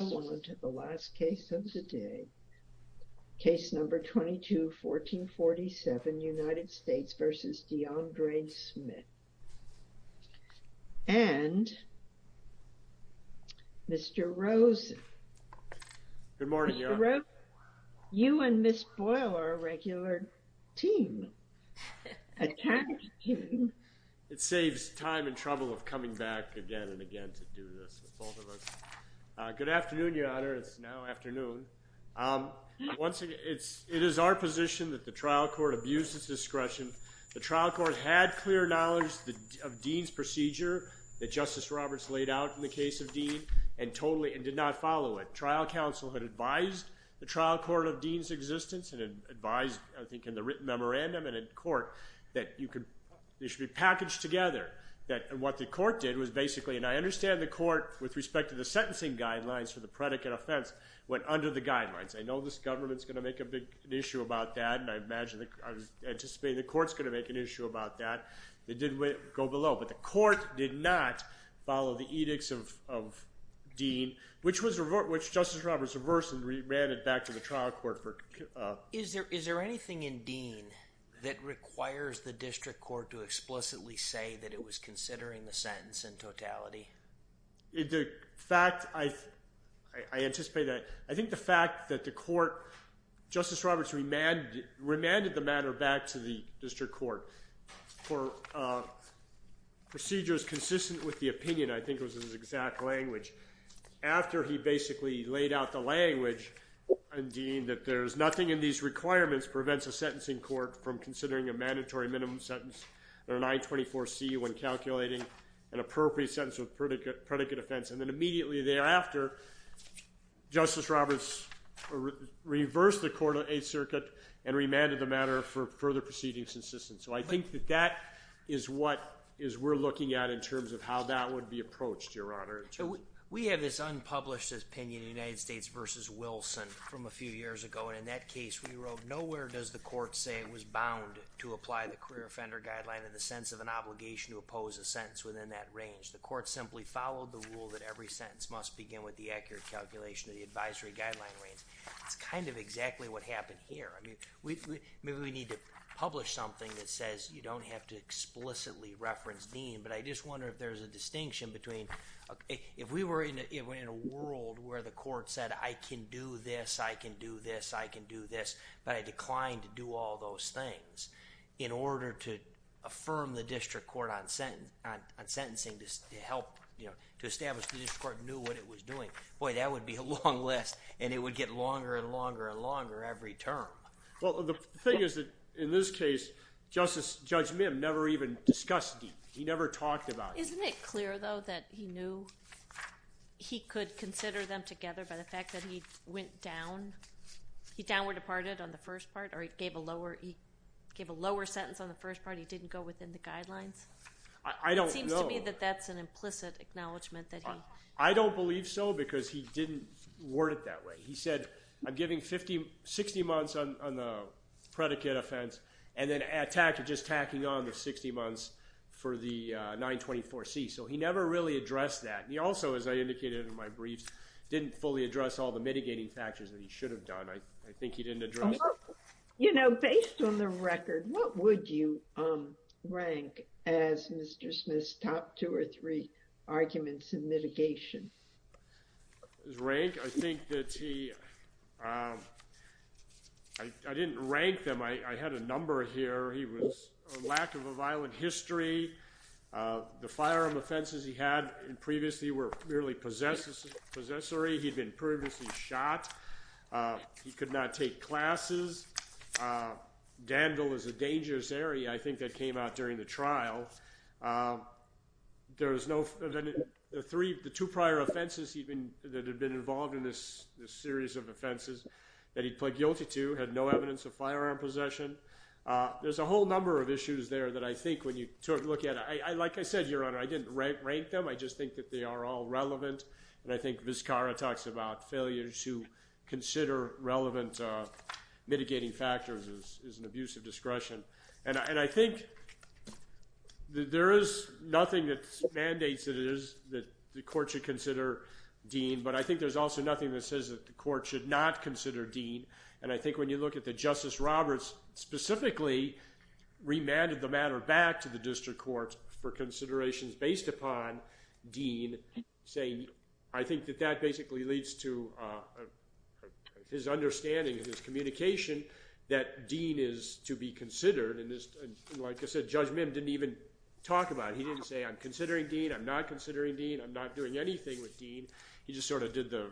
and Mr. Rosen. Good morning. You and Ms. Boyle are a regular team, a talent team. It saves time and trouble of coming back again and again to do this with both of us. Good afternoon, Your Honor. It's now afternoon. It is our position that the trial court abused its discretion. The trial court had clear knowledge of Dean's procedure that Justice Roberts laid out in the case of Dean and did not follow it. The trial counsel had advised the trial court of Dean's existence and advised, I think, in the written memorandum and in court that they should be packaged together. What the court did was basically, and I understand the court, with respect to the sentencing guidelines for the predicate offense, went under the guidelines. I know this government's going to make an issue about that, and I imagine, I anticipate the court's going to make an issue about that. They did go below, but the court did not follow the edicts of Dean, which Justice Roberts reversed and re-ran it back to the trial court. Is there anything in Dean that requires the district court to explicitly say that it was considering the sentence in totality? I anticipate that. I think the fact that the court, Justice Roberts remanded the matter back to the district court for procedures consistent with the opinion, I think was his exact language. After he basically laid out the language in Dean that there's nothing in these requirements prevents a sentencing court from considering a mandatory minimum sentence or an I-24C when calculating an appropriate sentence with predicate offense. Then immediately thereafter, Justice Roberts reversed the court of Eighth Circuit and remanded the matter for further proceedings consistent. I think that that is what we're looking at in terms of how that would be approached, Your Honor. We have this unpublished opinion, United States v. Wilson, from a few years ago. In that case, we wrote, nowhere does the court say it was bound to apply the career offender guideline in the sense of an obligation to oppose a sentence within that range. The court simply followed the rule that every sentence must begin with the accurate calculation of the advisory guideline range. That's kind of exactly what happened here. Maybe we need to publish something that says you don't have to explicitly reference Dean, but I just wonder if there's a distinction between, if we were in a world where the court said, I can do this, I can do this, I can do this, but I declined to do all those things, in order to affirm the district court on sentencing to help establish the district court knew what it was doing. Boy, that would be a long list, and it would get longer and longer and longer every term. Well, the thing is that in this case, Judge Mim never even discussed Dean. He never talked about him. Isn't it clear, though, that he knew he could consider them together by the fact that he went down? He downward departed on the first part, or he gave a lower sentence on the first part? He didn't go within the guidelines? I don't know. It seems to me that that's an implicit acknowledgment that he— I don't believe so, because he didn't word it that way. He said, I'm giving 60 months on the predicate offense, and then just tacking on the 60 months for the 924C. So he never really addressed that. He also, as I indicated in my brief, didn't fully address all the mitigating factors that he should have done. I think he didn't address— You know, based on the record, what would you rank as Mr. Smith's top two or three arguments in mitigation? His rank? I think that he—I didn't rank them. I had a number here. He was a lack of a violent history. The firearm offenses he had previously were merely possessory. He'd been previously shot. He could not take classes. Dandle is a dangerous area. I think that came out during the trial. The two prior offenses that had been involved in this series of offenses that he pled guilty to had no evidence of firearm possession. There's a whole number of issues there that I think when you look at—like I said, Your Honor, I didn't rank them. I just think that they are all relevant. And I think Vizcarra talks about failures who consider relevant mitigating factors as an abuse of discretion. And I think that there is nothing that mandates that the court should consider Dean, but I think there's also nothing that says that the court should not consider Dean. And I think when you look at that Justice Roberts specifically remanded the matter back to the district court for considerations based upon Dean, I think that that basically leads to his understanding and his communication that Dean is to be considered. And like I said, Judge Mim didn't even talk about it. He didn't say, I'm considering Dean, I'm not considering Dean, I'm not doing anything with Dean. He just sort of did the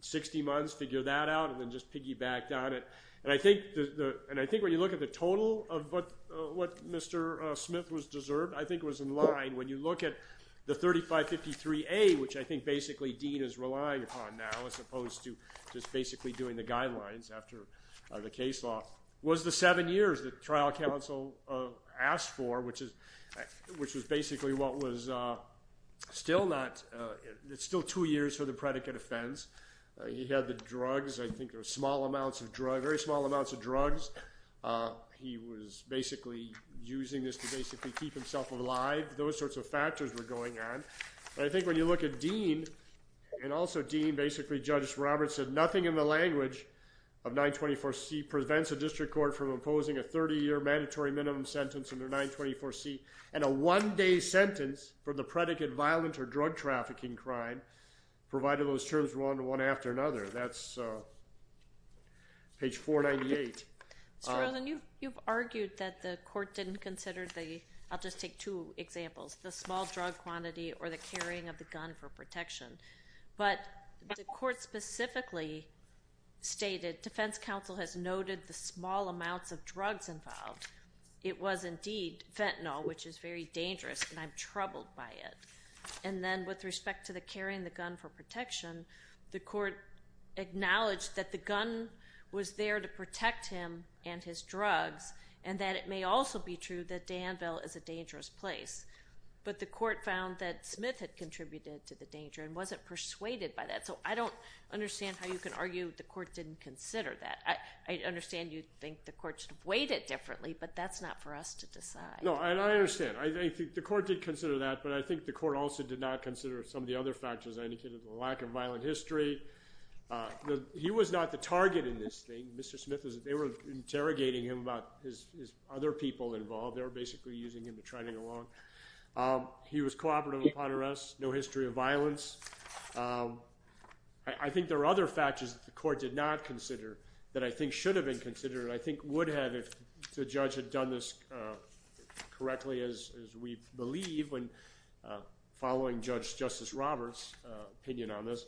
60 months, figured that out, and then just piggybacked on it. And I think when you look at the total of what Mr. Smith was deserved, I think it was in line. When you look at the 3553A, which I think basically Dean is relying upon now, as opposed to just basically doing the guidelines after the case law, was the seven years that trial counsel asked for, which was basically what was still two years for the predicate offense. He had the drugs. I think there were small amounts of drugs, very small amounts of drugs. He was basically using this to basically keep himself alive. Those sorts of factors were going on. But I think when you look at Dean, and also Dean basically, Judge Roberts said, nothing in the language of 924C prevents a district court from imposing a 30-year mandatory minimum sentence under 924C, and a one-day sentence for the predicate violent or drug trafficking crime, provided those terms run one after another. That's page 498. Ms. Rosen, you've argued that the court didn't consider the, I'll just take two examples, the small drug quantity or the carrying of the gun for protection. But the court specifically stated defense counsel has noted the small amounts of drugs involved. It was indeed fentanyl, which is very dangerous, and I'm troubled by it. And then with respect to the carrying the gun for protection, the court acknowledged that the gun was there to protect him and his drugs, and that it may also be true that Danville is a dangerous place. But the court found that Smith had contributed to the danger and wasn't persuaded by that. So I don't understand how you can argue the court didn't consider that. I understand you think the court should have weighed it differently, but that's not for us to decide. No, and I understand. I think the court did consider that, but I think the court also did not consider some of the other factors. I indicated the lack of violent history. He was not the target in this thing. Mr. Smith, they were interrogating him about his other people involved. They were basically using him to try to get along. He was cooperative upon arrest, no history of violence. I think there are other factors that the court did not consider that I think should have been considered and I think would have if the judge had done this correctly, as we believe, following Justice Roberts' opinion on this,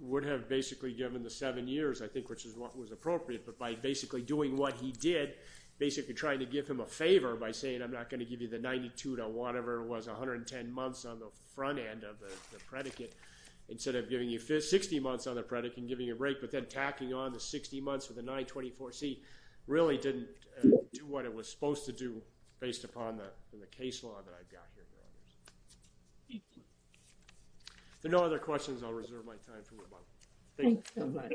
would have basically given the seven years, I think, which is what was appropriate, but by basically doing what he did, basically trying to give him a favor by saying I'm not going to give you the 92 to whatever it was, 110 months on the front end of the predicate, instead of giving you 60 months on the predicate and giving you a break but then tacking on the 60 months with a 924C really didn't do what it was supposed to do based upon the case law that I've got here, Your Honors. Thank you. If there are no other questions, I'll reserve my time for rebuttal. Thank you so much.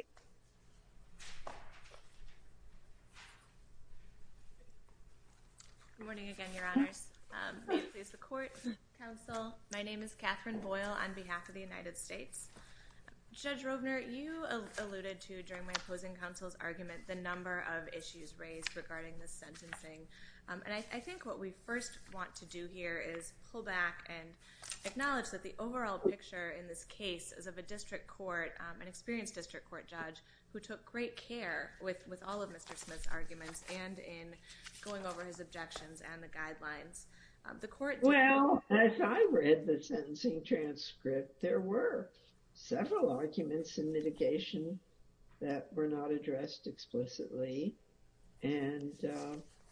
Good morning again, Your Honors. May it please the Court, Counsel. My name is Catherine Boyle on behalf of the United States. Judge Rovner, you alluded to, during my opposing counsel's argument, the number of issues raised regarding the sentencing, and I think what we first want to do here is pull back and acknowledge that the overall picture in this case is of a district court, an experienced district court judge, who took great care with all of Mr. Smith's arguments and in going over his objections and the guidelines. Well, as I read the sentencing transcript, there were. several arguments in mitigation that were not addressed explicitly and,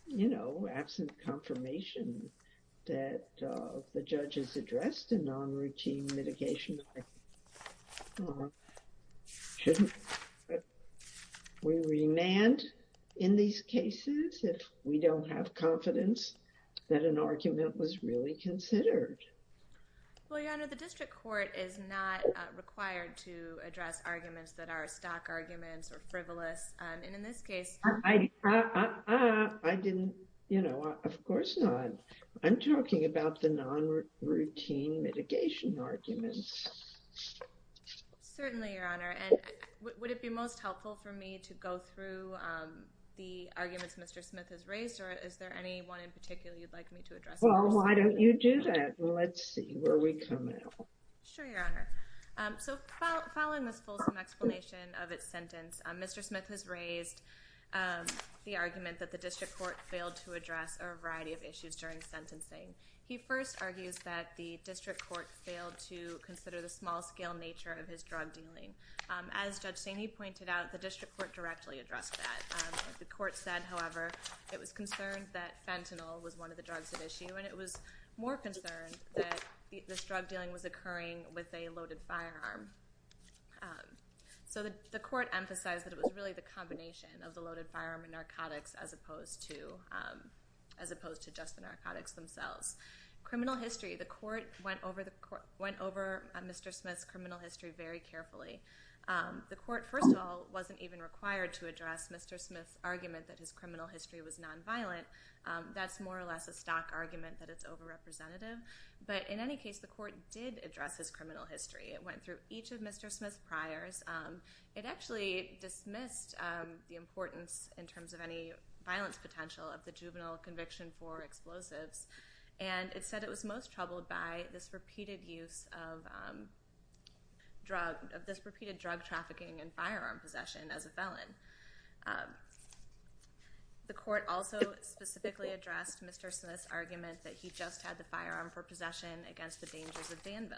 you know, absent confirmation that the judges addressed a non-routine mitigation argument. Shouldn't we remand in these cases if we don't have confidence that an argument was really considered? Well, Your Honor, the district court is not required to address arguments that are stock arguments or frivolous. And in this case, I didn't, you know, of course not. I'm talking about the non-routine mitigation arguments. Certainly, Your Honor. And would it be most helpful for me to go through the arguments Mr. Smith has raised, or is there any one in particular you'd like me to address? Well, why don't you do that, and let's see where we come out. Sure, Your Honor. So following this fulsome explanation of its sentence, Mr. Smith has raised the argument that the district court failed to address a variety of issues during sentencing. He first argues that the district court failed to consider the small-scale nature of his drug dealing. As Judge Saney pointed out, the district court directly addressed that. The court said, however, it was concerned that fentanyl was one of the drugs at issue, and it was more concerned that this drug dealing was occurring with a loaded firearm. So the court emphasized that it was really the combination of the loaded firearm and narcotics, as opposed to just the narcotics themselves. Criminal history. The court went over Mr. Smith's criminal history very carefully. The court, first of all, wasn't even required to address Mr. Smith's argument that his criminal history was nonviolent. That's more or less a stock argument that it's over-representative. But in any case, the court did address his criminal history. It went through each of Mr. Smith's priors. It actually dismissed the importance, in terms of any violence potential, of the juvenile conviction for explosives, and it said it was most troubled by this repeated drug trafficking and firearm possession as a felon. The court also specifically addressed Mr. Smith's argument that he just had the firearm for possession against the dangers of Danville.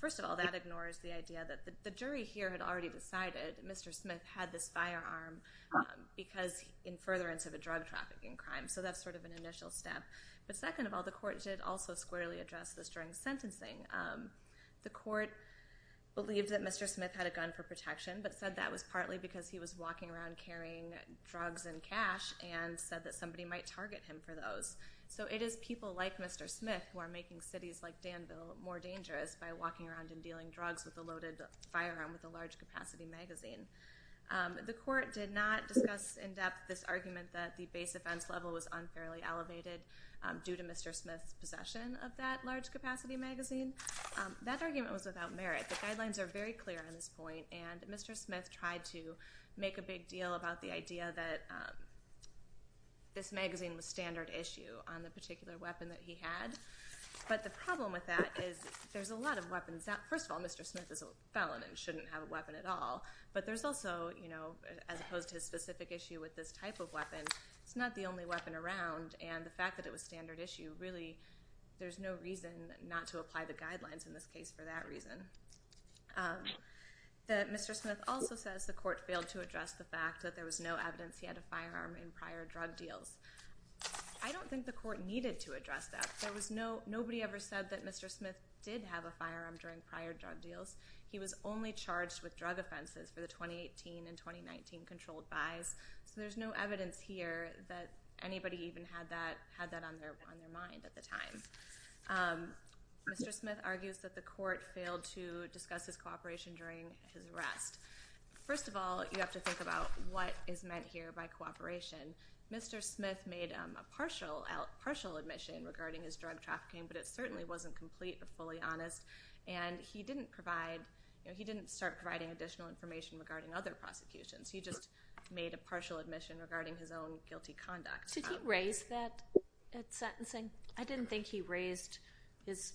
First of all, that ignores the idea that the jury here had already decided Mr. Smith had this firearm in furtherance of a drug trafficking crime, so that's sort of an initial step. But second of all, the court did also squarely address this during sentencing. The court believed that Mr. Smith had a gun for protection, but said that was partly because he was walking around carrying drugs and cash, and said that somebody might target him for those. So it is people like Mr. Smith who are making cities like Danville more dangerous by walking around and dealing drugs with a loaded firearm with a large-capacity magazine. The court did not discuss in depth this argument that the base offense level was unfairly elevated due to Mr. Smith's possession of that large-capacity magazine. That argument was without merit. The guidelines are very clear on this point, and Mr. Smith tried to make a big deal about the idea that this magazine was standard issue on the particular weapon that he had. But the problem with that is there's a lot of weapons. First of all, Mr. Smith is a felon and shouldn't have a weapon at all, but there's also, as opposed to his specific issue with this type of weapon, it's not the only weapon around, and the fact that it was standard issue, really there's no reason not to apply the guidelines in this case for that reason. Mr. Smith also says the court failed to address the fact that there was no evidence he had a firearm in prior drug deals. I don't think the court needed to address that. Nobody ever said that Mr. Smith did have a firearm during prior drug deals. He was only charged with drug offenses for the 2018 and 2019 controlled buys, so there's no evidence here that anybody even had that on their mind at the time. Mr. Smith argues that the court failed to discuss his cooperation during his arrest. First of all, you have to think about what is meant here by cooperation. Mr. Smith made a partial admission regarding his drug trafficking, but it certainly wasn't complete or fully honest, and he didn't start providing additional information regarding other prosecutions. He just made a partial admission regarding his own guilty conduct. Did he raise that at sentencing? I didn't think he raised his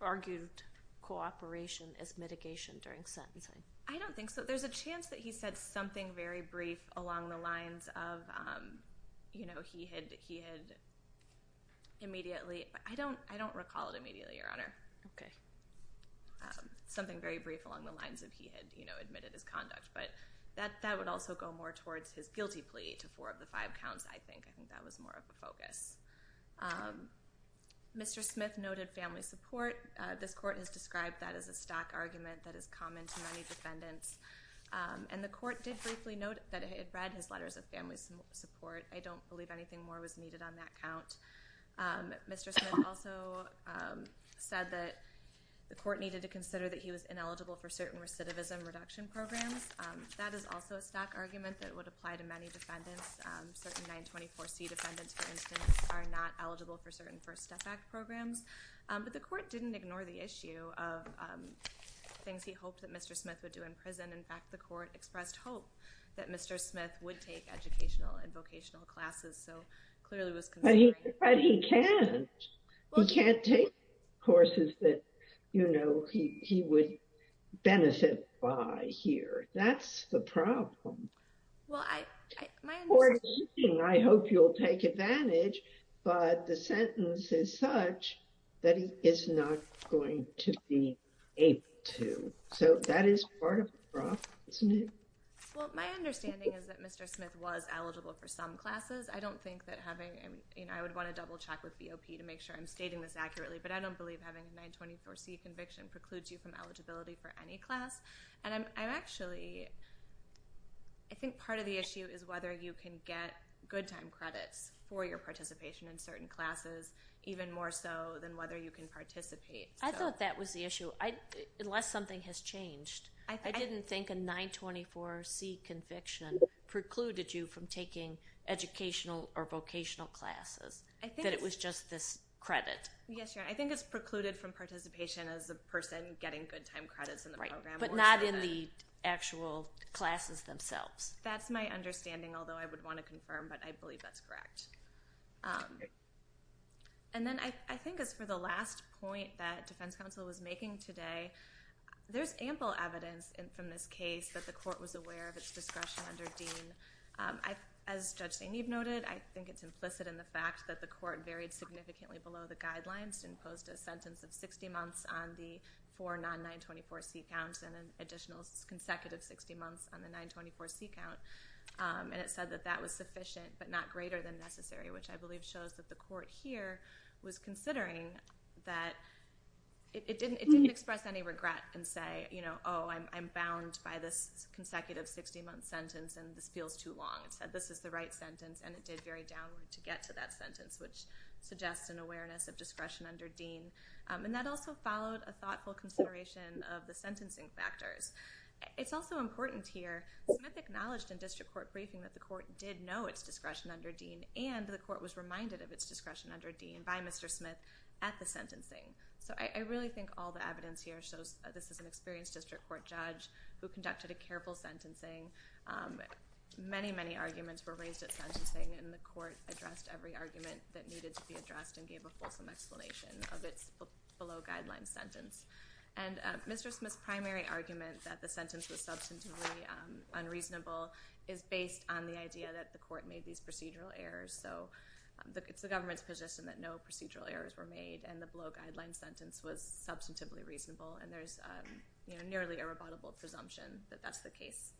argued cooperation as mitigation during sentencing. I don't think so. There's a chance that he said something very brief along the lines of he had immediately. I don't recall it immediately, Your Honor. Okay. Something very brief along the lines of he had admitted his conduct, but that would also go more towards his guilty plea to four of the five counts, I think. I think that was more of a focus. Mr. Smith noted family support. This court has described that as a stock argument that is common to many defendants, and the court did briefly note that it had read his letters of family support. I don't believe anything more was needed on that count. Mr. Smith also said that the court needed to consider that he was ineligible for certain recidivism reduction programs. That is also a stock argument that would apply to many defendants. Certain 924C defendants, for instance, are not eligible for certain First Step Act programs. But the court didn't ignore the issue of things he hoped that Mr. Smith would do in prison. In fact, the court expressed hope that Mr. Smith would take educational and vocational classes, but he can't. He can't take courses that he would benefit by here. That's the problem. I hope you'll take advantage, but the sentence is such that he is not going to be able to. So that is part of the problem, isn't it? Well, my understanding is that Mr. Smith was eligible for some classes. I would want to double-check with BOP to make sure I'm stating this accurately, but I don't believe having a 924C conviction precludes you from eligibility for any class. I think part of the issue is whether you can get good time credits for your participation in certain classes, even more so than whether you can participate. I thought that was the issue, unless something has changed. I didn't think a 924C conviction precluded you from taking educational or vocational classes, that it was just this credit. Yes, Your Honor. I think it's precluded from participation as a person getting good time credits in the program. Right, but not in the actual classes themselves. That's my understanding, although I would want to confirm, but I believe that's correct. And then I think as for the last point that defense counsel was making today, there's ample evidence from this case that the court was aware of its discretion under Dean. As Judge Zainib noted, I think it's implicit in the fact that the court varied significantly below the guidelines and posed a sentence of 60 months on the four non-924C counts and an additional consecutive 60 months on the 924C count. And it said that that was sufficient but not greater than necessary, which I believe shows that the court here was considering that it didn't express any regret and say, oh, I'm bound by this consecutive 60-month sentence and this feels too long. It said this is the right sentence, and it did vary downward to get to that sentence, which suggests an awareness of discretion under Dean. And that also followed a thoughtful consideration of the sentencing factors. It's also important here, Smith acknowledged in district court briefing that the court did know its discretion under Dean and the court was reminded of its discretion under Dean by Mr. Smith at the sentencing. So I really think all the evidence here shows this is an experienced district court judge who conducted a careful sentencing. Many, many arguments were raised at sentencing, and the court addressed every argument that needed to be addressed and gave a fulsome explanation of its below-guidelines sentence. And Mr. Smith's primary argument that the sentence was substantively unreasonable is based on the idea that the court made these procedural errors. So it's the government's position that no procedural errors were made and the below-guidelines sentence was substantively reasonable, and there's nearly a rebuttable presumption that that's the case.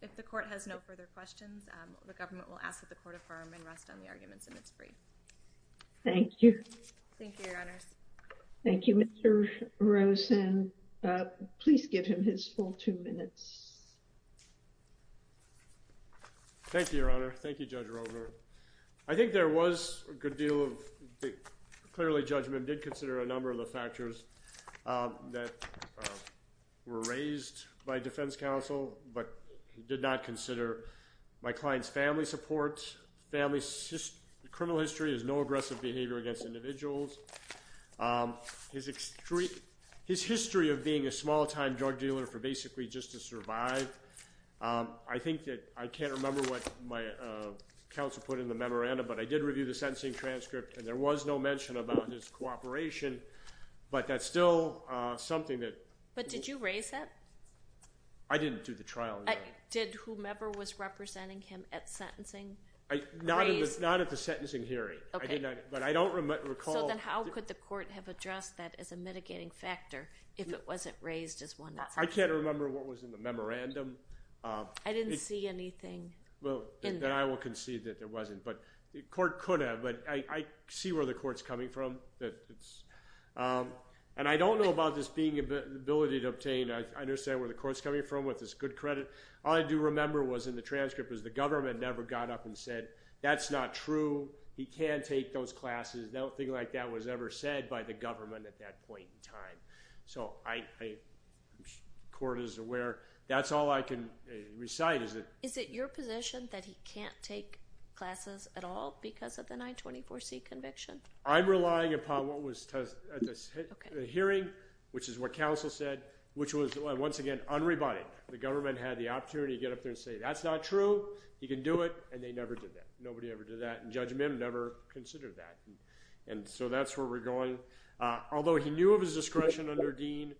If the court has no further questions, the government will ask that the court affirm and rest on the arguments, and it's free. Thank you. Thank you, Your Honors. Thank you, Mr. Rosen. Please give him his full two minutes. Thank you, Your Honor. Thank you, Judge Rogler. I think there was a good deal of clearly judgment. I did consider a number of the factors that were raised by defense counsel, but did not consider my client's family support. His family's criminal history is no aggressive behavior against individuals. His history of being a small-time drug dealer for basically just to survive, I think that I can't remember what my counsel put in the memorandum, but I did review the sentencing transcript, and there was no mention about his cooperation, but that's still something that. But did you raise that? I didn't do the trial. Did whomever was representing him at sentencing raise it? Not at the sentencing hearing, but I don't recall. So then how could the court have addressed that as a mitigating factor if it wasn't raised as one? I can't remember what was in the memorandum. I didn't see anything in there. Well, then I will concede that there wasn't, but the court could have, but I see where the court's coming from, and I don't know about this being an ability to obtain. I understand where the court's coming from with this good credit. All I do remember was in the transcript was the government never got up and said, that's not true, he can't take those classes. Nothing like that was ever said by the government at that point in time. So I'm sure the court is aware. That's all I can recite. Is it your position that he can't take classes at all because of the 924C conviction? I'm relying upon what was at the hearing, which is what counsel said, which was, once again, unrebutted. The government had the opportunity to get up there and say, that's not true, he can do it, and they never did that. Nobody ever did that, and Judge Mim never considered that. And so that's where we're going. Although he knew of his discretion under Dean,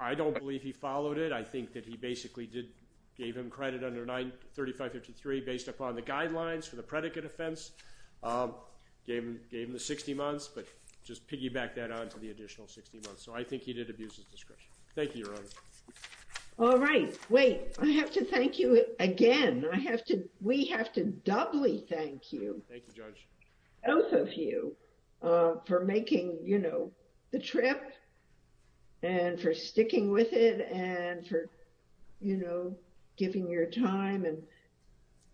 I don't believe he followed it. I think that he basically gave him credit under 93553 based upon the guidelines for the predicate offense, gave him the 60 months, but just piggyback that on to the additional 60 months. So I think he did abuse his discretion. Thank you, Your Honor. All right. Wait. I have to thank you again. We have to doubly thank you. Thank you, Judge. Both of you for making the trip and for sticking with it and for giving your time and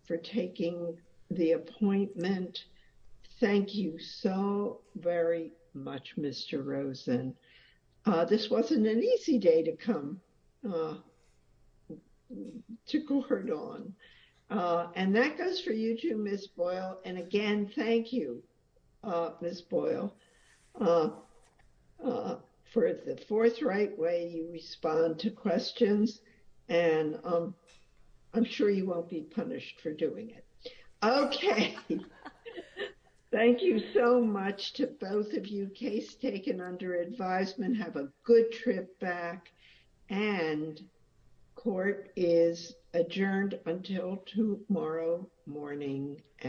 for taking the appointment. Thank you so very much, Mr. Rosen. This wasn't an easy day to come to Gordon. And that goes for you too, Ms. Boyle. And again, thank you, Ms. Boyle, for the forthright way you respond to questions. And I'm sure you won't be punished for doing it. Okay. Thank you so much to both of you. Case taken under advisement. Have a good trip back. And court is adjourned until tomorrow morning.